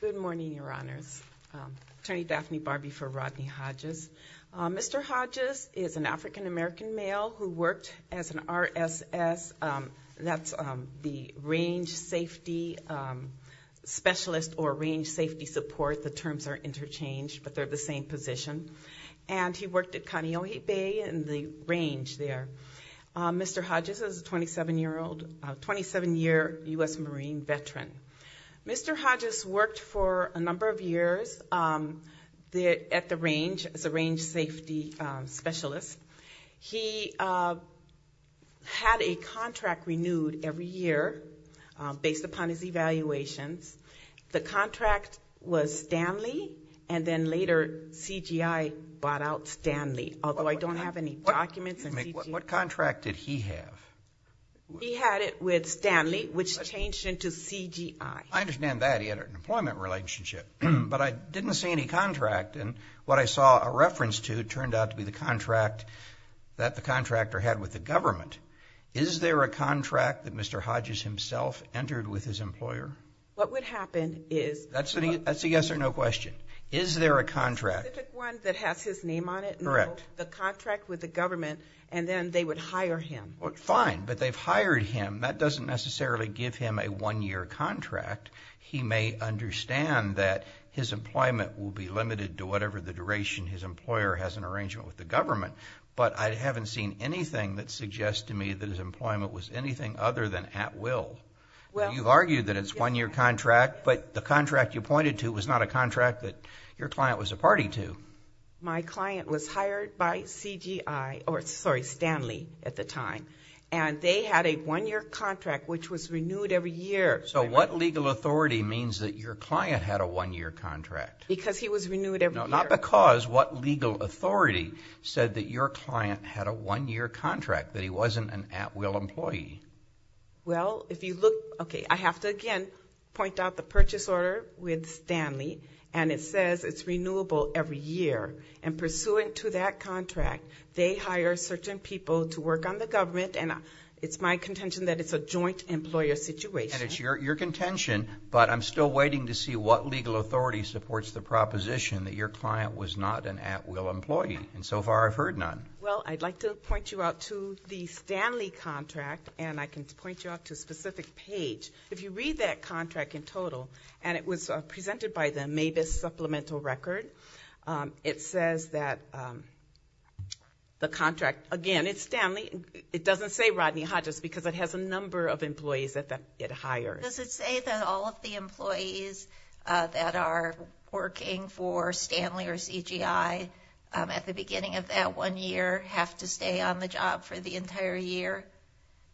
Good morning, Your Honors. Attorney Daphne Barbee for Rodney Hodges. Mr. Hodges is an African-American male who worked as an RSS, that's the Range Safety Specialist or Range Safety Support. The terms are interchanged, but they're the same position. And he worked at Kaneohe Bay in the range there. Mr. Hodges is a 27-year-old, 27-year U.S. Marine veteran. Mr. Hodges worked for a number of years at the range as a Range Safety Specialist. He had a contract renewed every year based upon his evaluations. The contract was Stanley and then later CGI bought out Stanley, although I don't have any documents. What contract did he have? He had it with Stanley, which changed into CGI. I understand that. He had an employment relationship. But I didn't see any contract. And what I saw a reference to turned out to be the contract that the contractor had with the government. Is there a contract that Mr. Hodges himself entered with his employer? What would happen is That's a yes or no question. Is there a contract? The specific one that has his name on it? Correct. The contract with the government, and then they would hire him. Fine, but they've hired him. That doesn't necessarily give him a one-year contract. He may understand that his employment will be limited to whatever the duration his employer has an arrangement with the government. But I haven't seen anything that suggests to me that his employment was anything other than at will. You argue that it's a one-year contract, but the contract you pointed to was not a contract that your client was a party to. My client was hired by CGI, or sorry, Stanley at the time. And they had a one-year contract, which was renewed every year. So what legal authority means that your client had a one-year contract? Because he was renewed every year. No, not because. What legal authority said that your client had a one-year contract, that he wasn't an at-will employee? Well, if you look, okay, I have to, again, point out the purchase order with Stanley, and it says it's renewable every year. And pursuant to that contract, they hire certain people to work on the government, and it's my contention that it's a joint employer situation. And it's your contention, but I'm still waiting to see what legal authority supports the proposition that your client was not an at-will employee. And so far, I've heard none. Well, I'd like to point you out to the Stanley contract, and I can point you out to a specific page. If you read that contract in total, and it was presented by the Mavis Supplemental Record, it says that the contract, again, it's Stanley. It doesn't say Rodney Hodges, because it has a number of employees that it hires. Does it say that all of the employees that are working for Stanley or CGI at the beginning of that one year have to stay on the job for the entire year?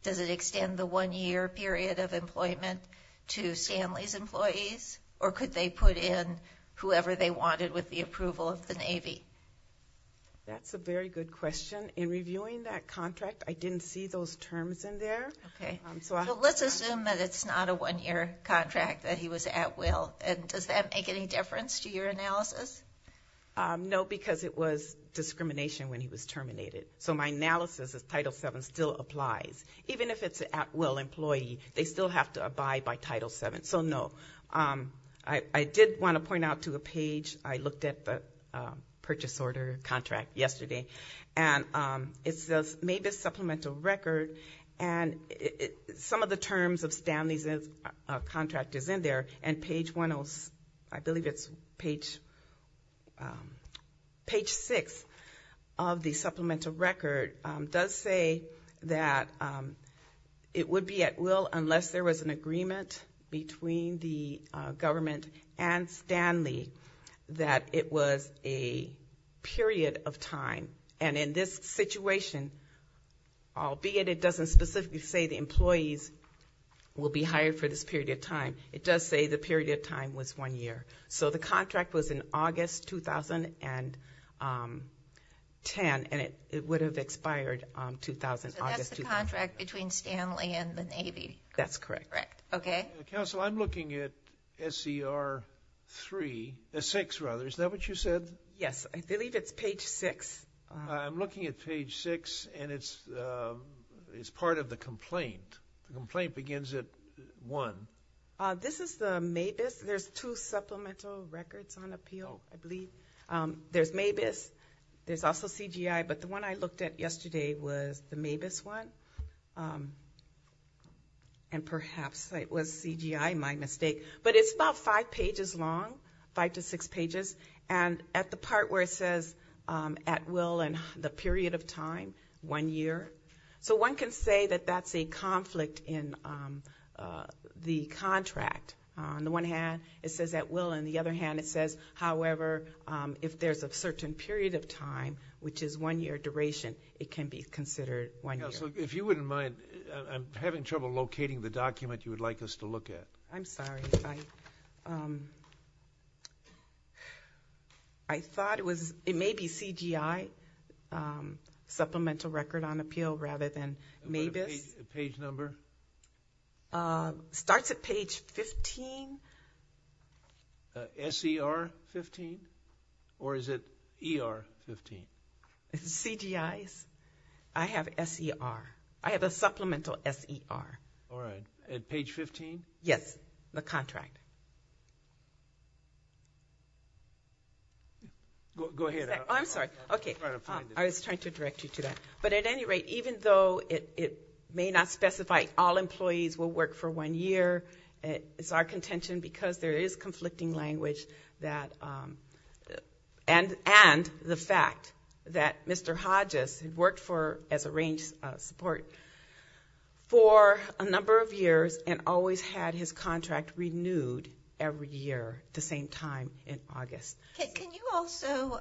Does it extend the one-year period of employment to Stanley's employees? Or could they put in whoever they wanted with the approval of the Navy? That's a very good question. In reviewing that contract, I didn't see those terms in there. Okay. So let's assume that it's not a one-year contract, that he was at-will. And does that make any difference to your analysis? No, because it was discrimination when he was terminated. So my analysis is Title VII still applies. Even if it's an at-will employee, they still have to abide by Title VII. So no. I did want to point out to a page. I looked at the purchase order contract yesterday. And it says Mavis Supplemental Record. And some of the terms of Stanley's contract is in there. And page 106 of the Supplemental Record does say that it would be at-will unless there was an agreement between the government and Stanley that it was a period of time. And in this situation, albeit it doesn't specifically say the employees will be hired for this period of time, it does say the period of time was one year. So the contract was in August 2010, and it would have expired August 2010. So that's the contract between Stanley and the Navy. That's correct. Okay. Counsel, I'm looking at SCR 6. Is that what you said? Yes. I believe it's page 6. I'm looking at page 6, and it's part of the complaint. The complaint begins at 1. This is the Mavis. There's two supplemental records on appeal, I believe. There's Mavis. There's also CGI. But the one I looked at yesterday was the Mavis one. And perhaps it was CGI, my mistake. But it's about five pages long, five to six pages. And at the part where it says at-will and the period of time, one year. So one can say that that's a conflict in the contract. On the one hand, it says at-will. On the other hand, it says, however, if there's a certain period of time, which is one year duration, it can be considered one year. Counsel, if you wouldn't mind, I'm having trouble locating the document you would like us to look at. I'm sorry. I thought it was maybe CGI supplemental record on appeal rather than Mavis. Page number? Starts at page 15. SCR 15? Or is it ER 15? CGI. I have SCR. I have a supplemental SCR. All right. At page 15? Yes. The contract. Go ahead. I'm sorry. Okay. I was trying to direct you to that. But at any rate, even though it may not specify all employees will work for one year, it's our contention, because there is conflicting language, and the fact that Mr. Hodges worked as a range support for a number of years and always had his contract renewed every year at the same time in August. Can you also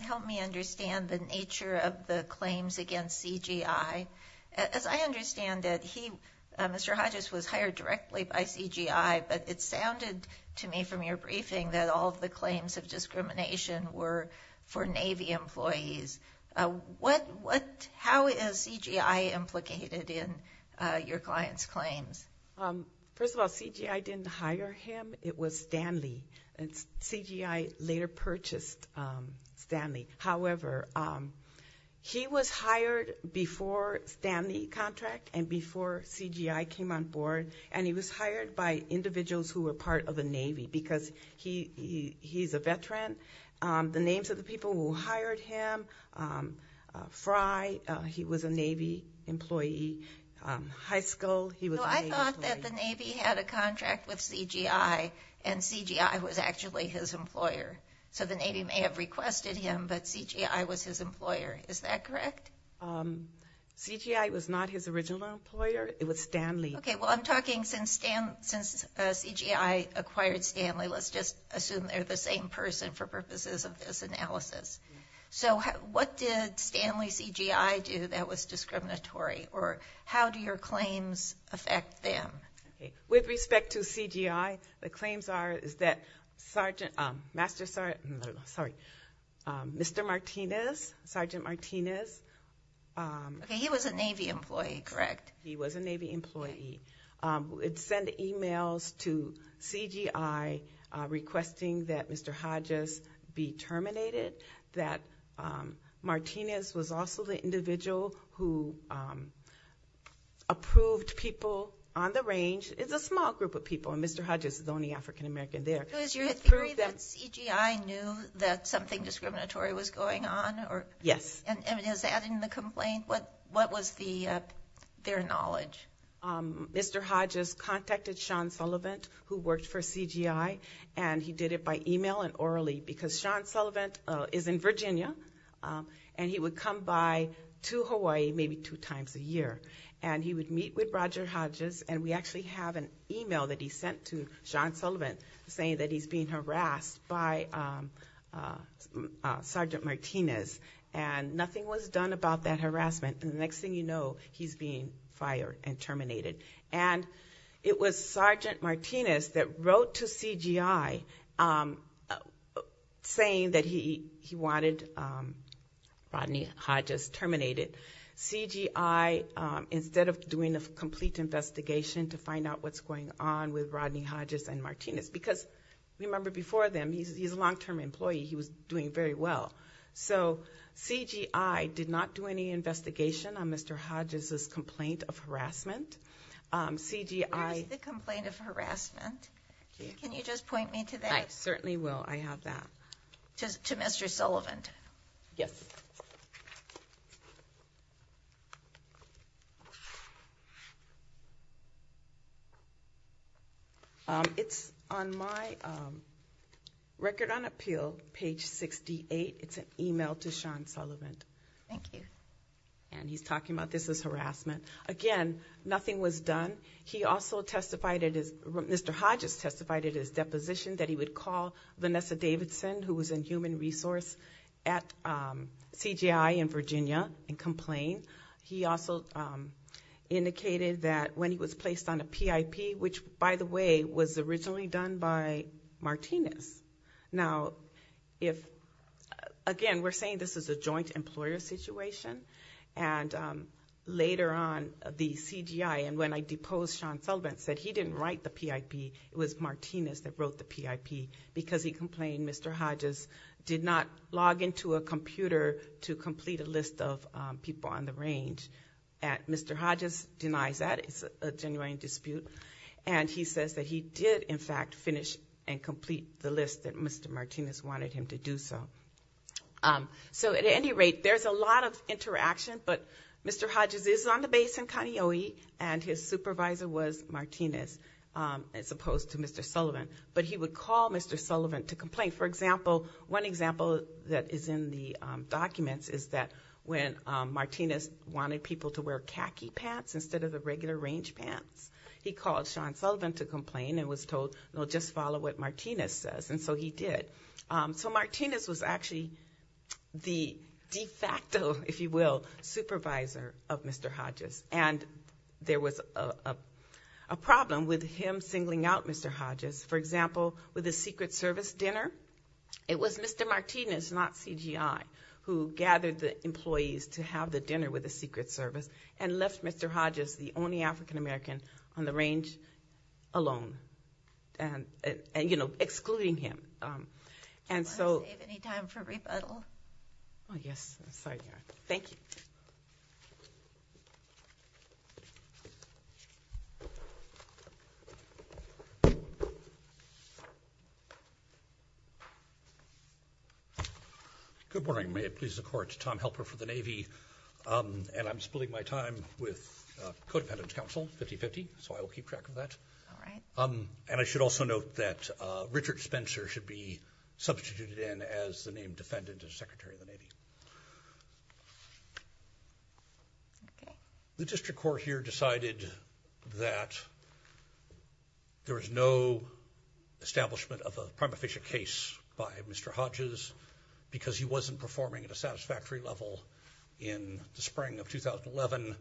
help me understand the nature of the claims against CGI? As I understand it, Mr. Hodges was hired directly by CGI, but it sounded to me from your briefing that all of the claims of discrimination were for Navy employees. How is CGI implicated in your client's claims? First of all, CGI didn't hire him. It was Stanley. CGI later purchased Stanley. However, he was hired before Stanley contract and before CGI came on board, and he was hired by individuals who were part of the Navy because he's a veteran. The names of the people who hired him, Fry, he was a Navy employee. Heiskell, he was a Navy employee. No, I thought that the Navy had a contract with CGI, and CGI was actually his employer. So the Navy may have requested him, but CGI was his employer. Is that correct? CGI was not his original employer. It was Stanley. Okay, well, I'm talking since CGI acquired Stanley, let's just assume they're the same person for purposes of this analysis. So what did Stanley CGI do that was discriminatory, or how do your claims affect them? With respect to CGI, the claims are, is that Sergeant, Master Sergeant, sorry, Mr. Martinez, Sergeant Martinez. Okay, he was a Navy employee, correct? He was a Navy employee. It sent emails to CGI requesting that Mr. Hodges be terminated, that Martinez was also the individual who approved people on the range. It's a small group of people, and Mr. Hodges is the only African-American there. So is your theory that CGI knew that something discriminatory was going on? Yes. And is that in the complaint? What was their knowledge? Mr. Hodges contacted Sean Sullivan, who worked for CGI, and he did it by email and orally because Sean Sullivan is in Virginia, and he would come by to Hawaii maybe two times a year. And he would meet with Roger Hodges, and we actually have an email that he sent to Sean Sullivan saying that he's being harassed by Sergeant Martinez. And nothing was done about that harassment. And the next thing you know, he's being fired and terminated. And it was Sergeant Martinez that wrote to CGI saying that he wanted Rodney Hodges terminated. CGI, instead of doing a complete investigation to find out what's going on with Rodney Hodges and Martinez, because remember before then, he's a long-term employee. He was doing very well. So CGI did not do any investigation on Mr. Hodges' complaint of harassment. CGI- Where is the complaint of harassment? Can you just point me to that? I certainly will. I have that. To Mr. Sullivan. Yes. Thank you. It's on my record on appeal, page 68. It's an email to Sean Sullivan. Thank you. And he's talking about this as harassment. Again, nothing was done. Mr. Hodges testified at his deposition that he would call Vanessa Davidson, who was in human resource at CGI in Virginia, and complain. He also indicated that when he was placed on a PIP, which, by the way, was originally done by Martinez. Now, again, we're saying this is a joint employer situation. And later on, the CGI, and when I deposed Sean Sullivan, said he didn't write the PIP. It was Martinez that wrote the PIP, because he complained Mr. Hodges did not log into a computer to complete a list of people on the range. Mr. Hodges denies that. It's a genuine dispute. And he says that he did, in fact, finish and complete the list that Mr. Martinez wanted him to do so. So, at any rate, there's a lot of interaction. But Mr. Hodges is on the base in Kaneohe, and his supervisor was Martinez, as opposed to Mr. Sullivan. But he would call Mr. Sullivan to complain. For example, one example that is in the documents is that when Martinez wanted people to wear khaki pants instead of the regular range pants, he called Sean Sullivan to complain and was told, you know, just follow what Martinez says. And so he did. So Martinez was actually the de facto, if you will, supervisor of Mr. Hodges. And there was a problem with him singling out Mr. Hodges. For example, with the Secret Service dinner, it was Mr. Martinez, not CGI, who gathered the employees to have the dinner with the Secret Service and left Mr. Hodges, the only African-American on the range, alone. And, you know, excluding him. Do you want to save any time for rebuttal? Oh, yes. Thank you. Good morning. May it please the Court. I'm Lieutenant Tom Helper for the Navy, and I'm splitting my time with codependent counsel, 50-50, so I will keep track of that. All right. And I should also note that Richard Spencer should be substituted in as the named defendant as Secretary of the Navy. Okay. The district court here decided that there was no establishment of a prima facie case by Mr. Hodges because he wasn't performing at a satisfactory level in the spring of 2011.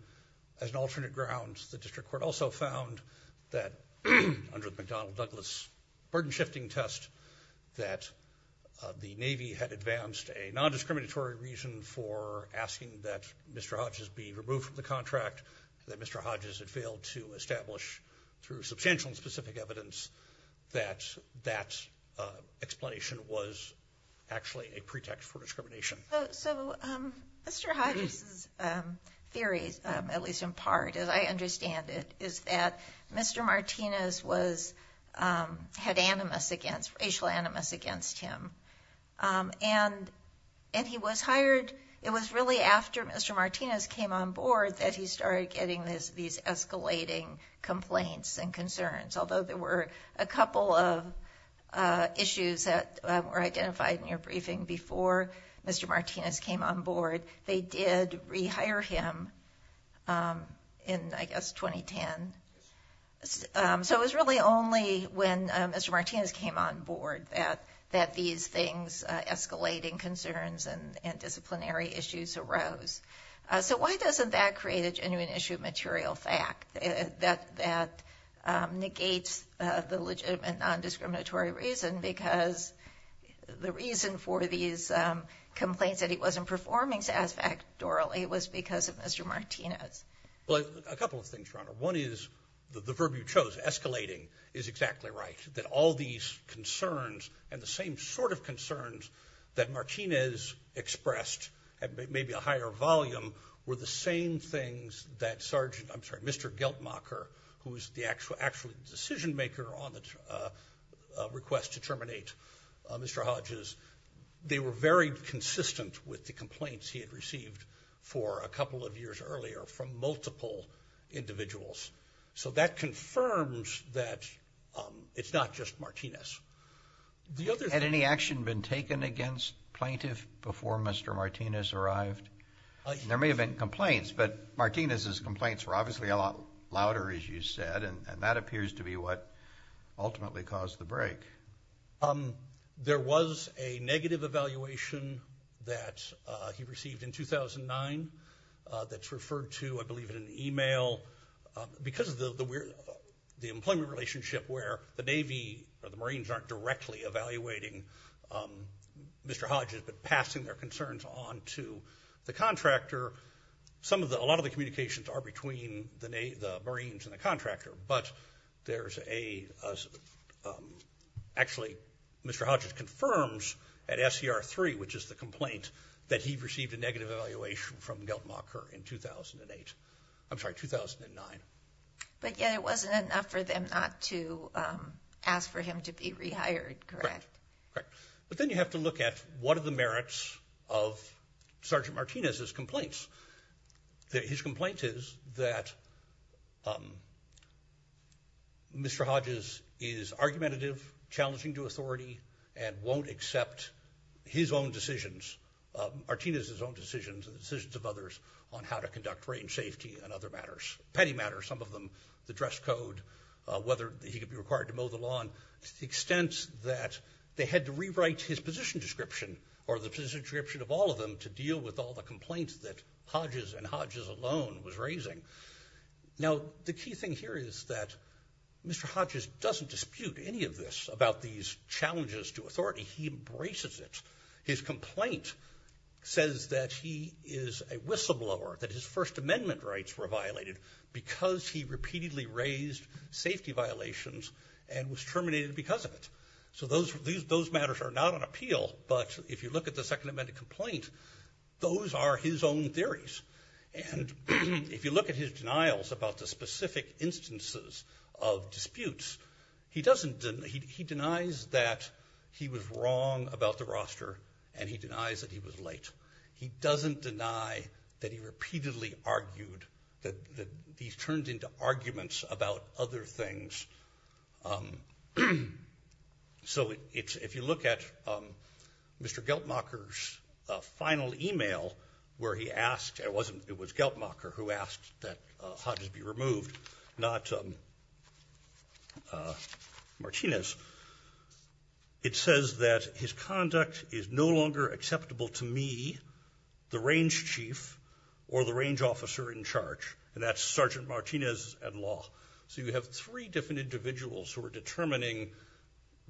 As an alternate ground, the district court also found that under the McDonnell-Douglas burden-shifting test that the Navy had advanced a nondiscriminatory reason for asking that Mr. Hodges be removed from the contract, that Mr. Hodges had failed to establish through substantial and specific evidence that that explanation was actually a pretext for discrimination. So Mr. Hodges' theory, at least in part as I understand it, is that Mr. Martinez had racial animus against him, and he was hired. It was really after Mr. Martinez came on board that he started getting these escalating complaints and concerns, although there were a couple of issues that were identified in your briefing before Mr. Martinez came on board. They did rehire him in, I guess, 2010. So it was really only when Mr. Martinez came on board that these things, escalating concerns and disciplinary issues, arose. So why doesn't that create a genuine issue of material fact that negates the legitimate nondiscriminatory reason? Because the reason for these complaints that he wasn't performing satisfactorily was because of Mr. Martinez. Well, a couple of things, Your Honor. One is the verb you chose, escalating, is exactly right. concerns and the same sort of concerns that Martinez expressed at maybe a higher volume were the same things that Sergeant, I'm sorry, Mr. Geltmacher, who was actually the decision-maker on the request to terminate Mr. Hodges, they were very consistent with the complaints he had received for a couple of years earlier from multiple individuals. So that confirms that it's not just Martinez. Had any action been taken against plaintiff before Mr. Martinez arrived? There may have been complaints, but Martinez's complaints were obviously a lot louder, as you said, and that appears to be what ultimately caused the break. There was a negative evaluation that he received in 2009 that's referred to, I believe, in an email. Because of the employment relationship where the Navy or the Marines aren't directly evaluating Mr. Hodges but passing their concerns on to the contractor, a lot of the communications are between the Marines and the contractor, but actually Mr. Hodges confirms at SCR 3, which is the complaint, that he received a negative evaluation from Geltmacher in 2008. I'm sorry, 2009. But yet it wasn't enough for them not to ask for him to be rehired, correct? Correct. But then you have to look at what are the merits of Sergeant Martinez's complaints. His complaint is that Mr. Hodges is argumentative, challenging to authority, and won't accept his own decisions, Martinez's own decisions and the decisions of others, on how to conduct range safety and other matters, petty matters, some of them, the dress code, whether he could be required to mow the lawn, to the extent that they had to rewrite his position description or the position description of all of them to deal with all the complaints that Hodges and Hodges alone was raising. Now, the key thing here is that Mr. Hodges doesn't dispute any of this about these challenges to authority. He embraces it. His complaint says that he is a whistleblower, that his First Amendment rights were violated because he repeatedly raised safety violations and was terminated because of it. So those matters are not on appeal, but if you look at the Second Amendment complaint, those are his own theories. And if you look at his denials about the specific instances of disputes, he denies that he was wrong about the roster and he denies that he was late. He doesn't deny that he repeatedly argued, that he turned into arguments about other things. So if you look at Mr. Geltmacher's final e-mail where he asked, it was Geltmacher who asked that Hodges be removed, not Martinez, it says that his conduct is no longer acceptable to me, the range chief, or the range officer in charge. And that's Sergeant Martinez at law. So you have three different individuals who are determining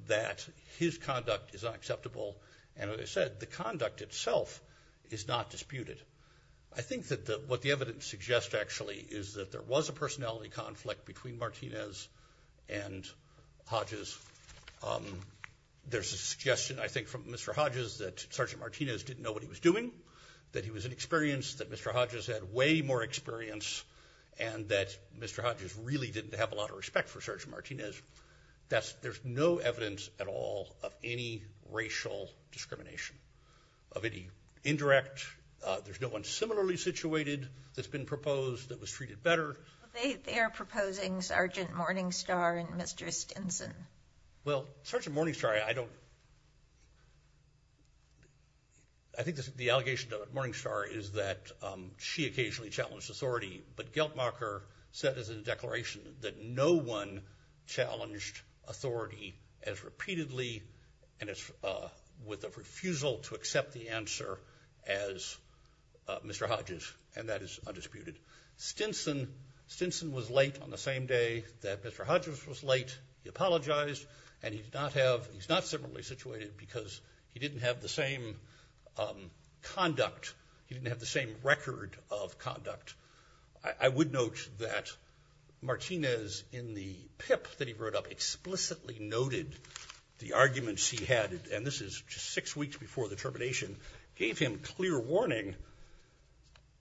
that his conduct is unacceptable. And as I said, the conduct itself is not disputed. I think that what the evidence suggests actually is that there was a personality conflict between Martinez and Hodges. There's a suggestion, I think, from Mr. Hodges that Sergeant Martinez didn't know what he was doing, that he was inexperienced, that Mr. Hodges had way more experience, and that Mr. Hodges really didn't have a lot of respect for Sergeant Martinez. There's no evidence at all of any racial discrimination, of any indirect. There's no one similarly situated that's been proposed that was treated better. They are proposing Sergeant Morningstar and Mr. Stinson. Well, Sergeant Morningstar, I think the allegation to Morningstar is that she occasionally challenged authority, but Geltmacher said as a declaration that no one challenged authority as repeatedly and with a refusal to accept the answer as Mr. Hodges, and that is undisputed. Stinson was late on the same day that Mr. Hodges was late. He apologized, and he's not similarly situated because he didn't have the same conduct. He didn't have the same record of conduct. I would note that Martinez in the PIP that he wrote up explicitly noted the arguments he had, and this is just six weeks before the termination, gave him clear warning.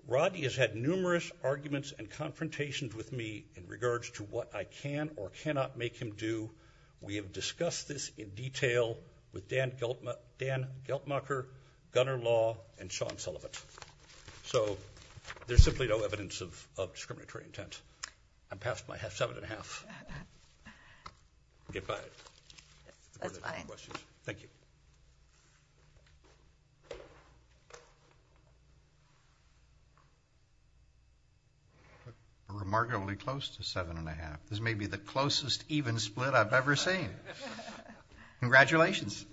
Rodney has had numerous arguments and confrontations with me in regards to what I can or cannot make him do. We have discussed this in detail with Dan Geltmacher, Gunner Law, and Sean Sullivan. So there's simply no evidence of discriminatory intent. I'm past my seven and a half. Goodbye. That's fine. Thank you. Remarkably close to seven and a half. This may be the closest even split I've ever seen. Congratulations.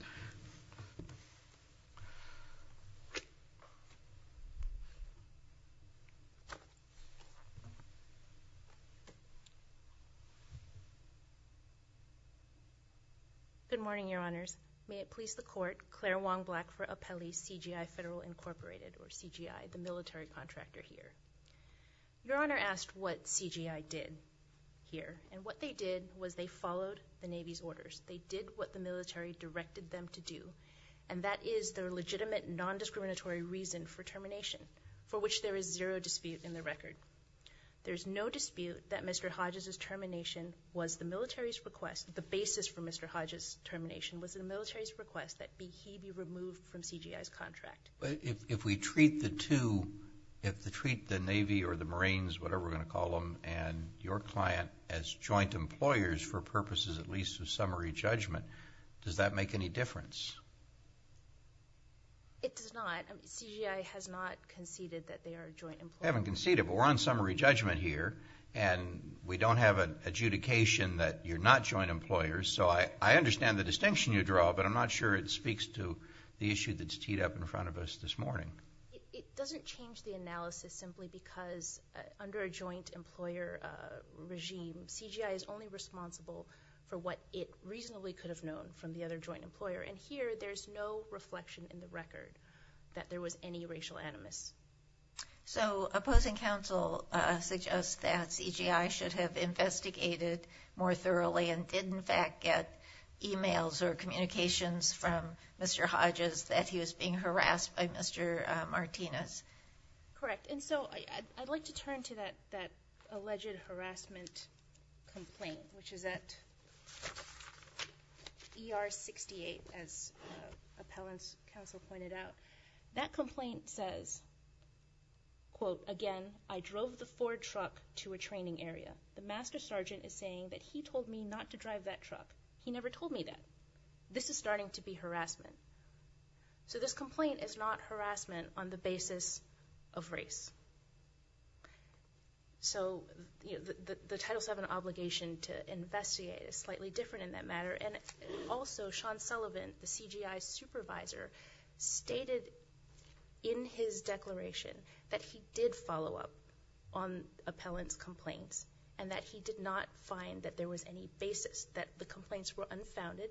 Good morning, Your Honors. May it please the Court, Claire Wong-Black for Apelli CGI Federal Incorporated, or CGI, the military contractor here. Your Honor asked what CGI did here, and what they did was they followed the Navy's orders. They did what the military directed them to do, and that is their legitimate, non-discriminatory reason for termination, for which there is zero dispute in the record. There's no dispute that Mr. Hodges' termination was the military's request, the basis for Mr. Hodges' termination was the military's request that he be removed from CGI's contract. If we treat the two, if we treat the Navy or the Marines, whatever we're going to call them, and your client as joint employers for purposes at least of summary judgment, does that make any difference? It does not. CGI has not conceded that they are joint employers. They haven't conceded, but we're on summary judgment here, and we don't have an adjudication that you're not joint employers. So I understand the distinction you draw, but I'm not sure it speaks to the issue that's teed up in front of us this morning. It doesn't change the analysis simply because under a joint employer regime, CGI is only responsible for what it reasonably could have known from the other joint employer, and here there's no reflection in the record that there was any racial animus. So opposing counsel suggests that CGI should have investigated more thoroughly and did in fact get e-mails or communications from Mr. Hodges that he was being harassed by Mr. Martinez. Correct, and so I'd like to turn to that alleged harassment complaint, which is at ER 68, as appellant's counsel pointed out. That complaint says, quote, again, I drove the Ford truck to a training area. The master sergeant is saying that he told me not to drive that truck. He never told me that. This is starting to be harassment. So this complaint is not harassment on the basis of race. So the Title VII obligation to investigate is slightly different in that matter, and also Sean Sullivan, the CGI supervisor, stated in his declaration that he did follow up on appellant's complaints and that he did not find that there was any basis, that the complaints were unfounded,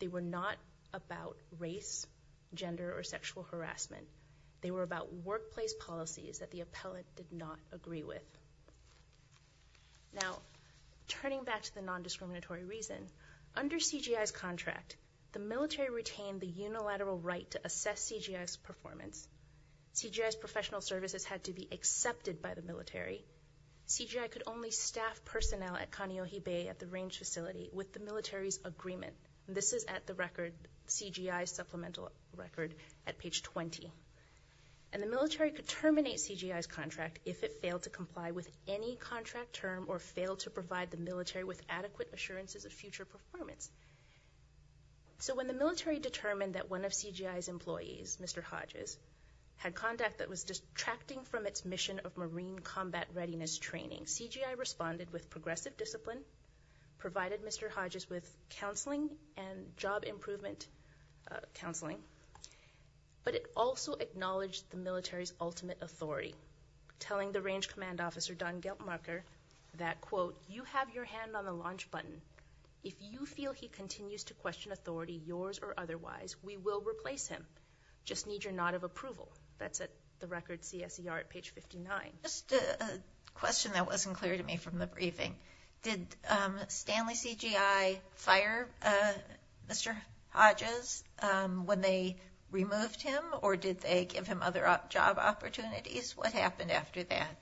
they were not about race, gender, or sexual harassment. They were about workplace policies that the appellant did not agree with. Now, turning back to the nondiscriminatory reason, under CGI's contract, the military retained the unilateral right to assess CGI's performance. CGI's professional services had to be accepted by the military. CGI could only staff personnel at Kaneohe Bay at the range facility with the military's agreement. This is at the CGI supplemental record at page 20. And the military could terminate CGI's contract if it failed to comply with any contract term or failed to provide the military with adequate assurances of future performance. So when the military determined that one of CGI's employees, Mr. Hodges, had conduct that was distracting from its mission of marine combat readiness training, CGI responded with progressive discipline, provided Mr. Hodges with counseling and job improvement counseling, but it also acknowledged the military's ultimate authority, telling the range command officer, Don Geltmarker, that, quote, you have your hand on the launch button. If you feel he continues to question authority, yours or otherwise, we will replace him. Just need your nod of approval. That's at the record CSER at page 59. Just a question that wasn't clear to me from the briefing. Did Stanley CGI fire Mr. Hodges when they removed him, or did they give him other job opportunities? What happened after that?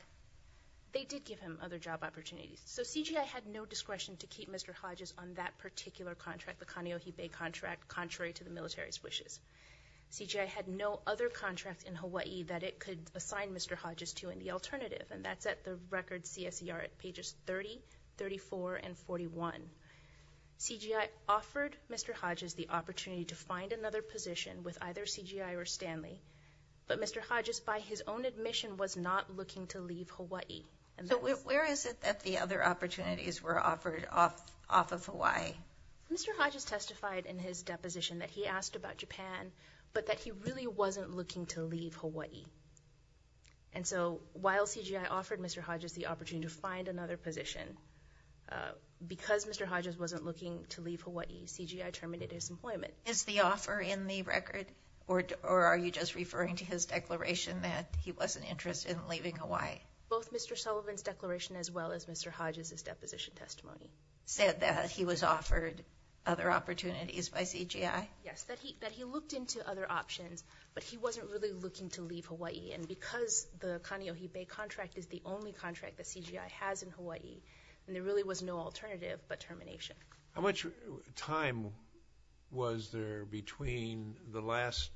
They did give him other job opportunities. So CGI had no discretion to keep Mr. Hodges on that particular contract, the Kaneohe Bay contract, contrary to the military's wishes. CGI had no other contract in Hawaii that it could assign Mr. Hodges to in the alternative, and that's at the record CSER at pages 30, 34, and 41. CGI offered Mr. Hodges the opportunity to find another position with either CGI or Stanley, but Mr. Hodges, by his own admission, was not looking to leave Hawaii. So where is it that the other opportunities were offered off of Hawaii? Mr. Hodges testified in his deposition that he asked about Japan, but that he really wasn't looking to leave Hawaii. And so while CGI offered Mr. Hodges the opportunity to find another position, because Mr. Hodges wasn't looking to leave Hawaii, CGI terminated his employment. Is the offer in the record, or are you just referring to his declaration that he wasn't interested in leaving Hawaii? Both Mr. Sullivan's declaration as well as Mr. Hodges' deposition testimony. Said that he was offered other opportunities by CGI? Yes, that he looked into other options, but he wasn't really looking to leave Hawaii. And because the Kaneohe Bay contract is the only contract that CGI has in Hawaii, there really was no alternative but termination. How much time was there between the last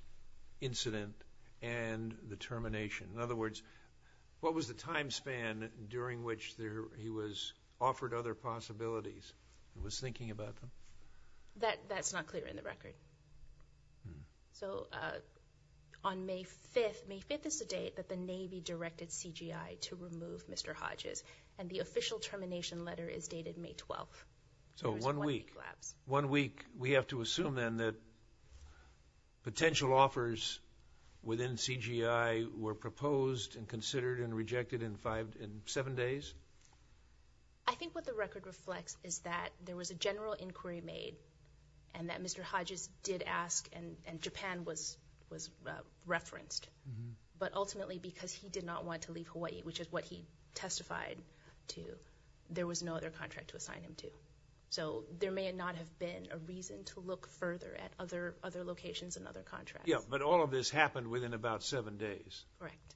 incident and the termination? In other words, what was the time span during which he was offered other possibilities? He was thinking about them? That's not clear in the record. So on May 5th, May 5th is the date that the Navy directed CGI to remove Mr. Hodges, and the official termination letter is dated May 12th. So one week. There was a one-week lapse. One week. We have to assume then that potential offers within CGI were proposed and considered and rejected in seven days? I think what the record reflects is that there was a general inquiry made and that Mr. Hodges did ask and Japan was referenced, but ultimately because he did not want to leave Hawaii, which is what he testified to, there was no other contract to assign him to. So there may not have been a reason to look further at other locations and other contracts. Yes, but all of this happened within about seven days. Correct.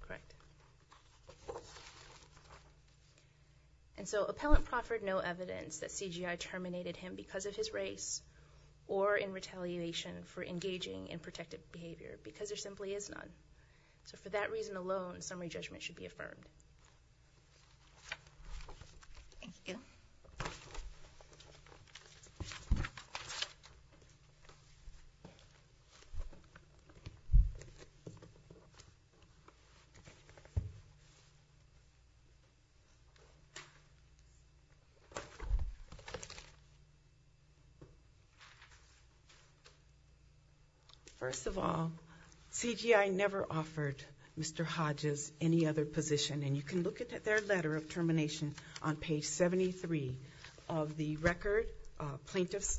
Correct. And so appellant proffered no evidence that CGI terminated him because of his race or in retaliation for engaging in protective behavior because there simply is none. So for that reason alone, summary judgment should be affirmed. Thank you. Thank you. First of all, CGI never offered Mr. Hodges any other position, and you can look at their letter of termination on page 73 of the record, plaintiff's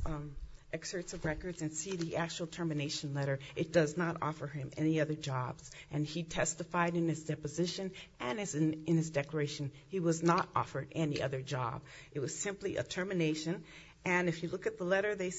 excerpts of records, and see the actual termination letter. It does not offer him any other jobs. And he testified in his deposition and in his declaration he was not offered any other job. It was simply a termination. And if you look at the letter, they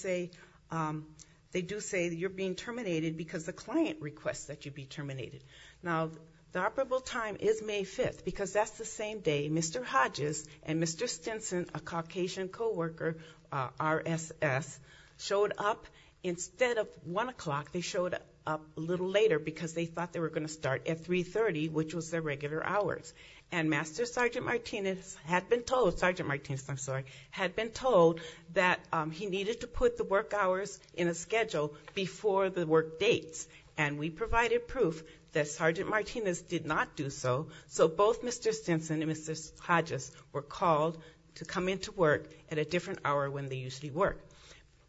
do say you're being terminated because the client requests that you be terminated. Now, the operable time is May 5th because that's the same day Mr. Hodges and Mr. Stinson, a Caucasian coworker, RSS, showed up. Instead of 1 o'clock, they showed up a little later because they thought they were going to start at 3.30, which was their regular hours. And Master Sergeant Martinez had been told, Sergeant Martinez, I'm sorry, had been told that he needed to put the work hours in a schedule before the work dates. And we provided proof that Sergeant Martinez did not do so. So both Mr. Stinson and Mr. Hodges were called to come into work at a different hour when they usually work.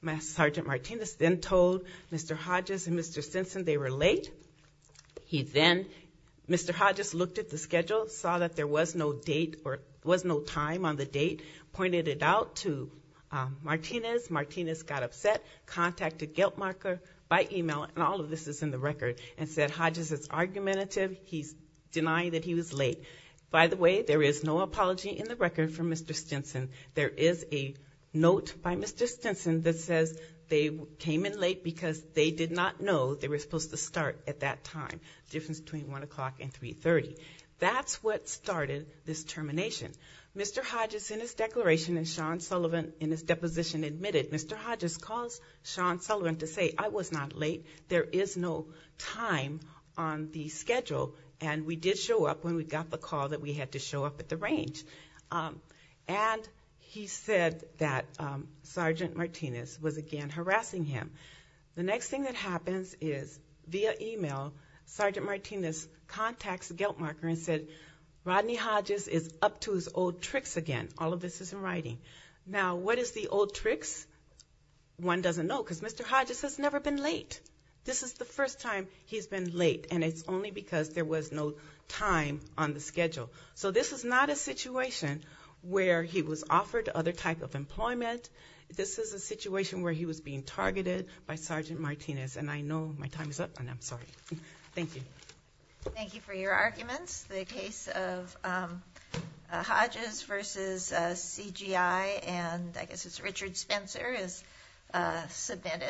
Master Sergeant Martinez then told Mr. Hodges and Mr. Stinson they were late. He then, Mr. Hodges looked at the schedule, saw that there was no date or was no time on the date, pointed it out to Martinez. Martinez got upset, contacted Giltmarker by e-mail, and all of this is in the record, and said, Hodges, it's argumentative. He's denying that he was late. By the way, there is no apology in the record from Mr. Stinson. There is a note by Mr. Stinson that says they came in late because they did not know they were supposed to start at that time, the difference between 1 o'clock and 3.30. That's what started this termination. Mr. Hodges, in his declaration, and Sean Sullivan in his deposition admitted, Mr. Hodges calls Sean Sullivan to say, I was not late. There is no time on the schedule. And we did show up when we got the call that we had to show up at the range. And he said that Sergeant Martinez was, again, harassing him. The next thing that happens is, via e-mail, Sergeant Martinez contacts Giltmarker and said, Rodney Hodges is up to his old tricks again. All of this is in writing. Now, what is the old tricks? One doesn't know because Mr. Hodges has never been late. This is the first time he's been late, and it's only because there was no time on the schedule. So this is not a situation where he was offered other type of employment. This is a situation where he was being targeted by Sergeant Martinez. And I know my time is up, and I'm sorry. Thank you. Thank you for your arguments. The case of Hodges versus CGI, and I guess it's Richard Spencer, is submitted.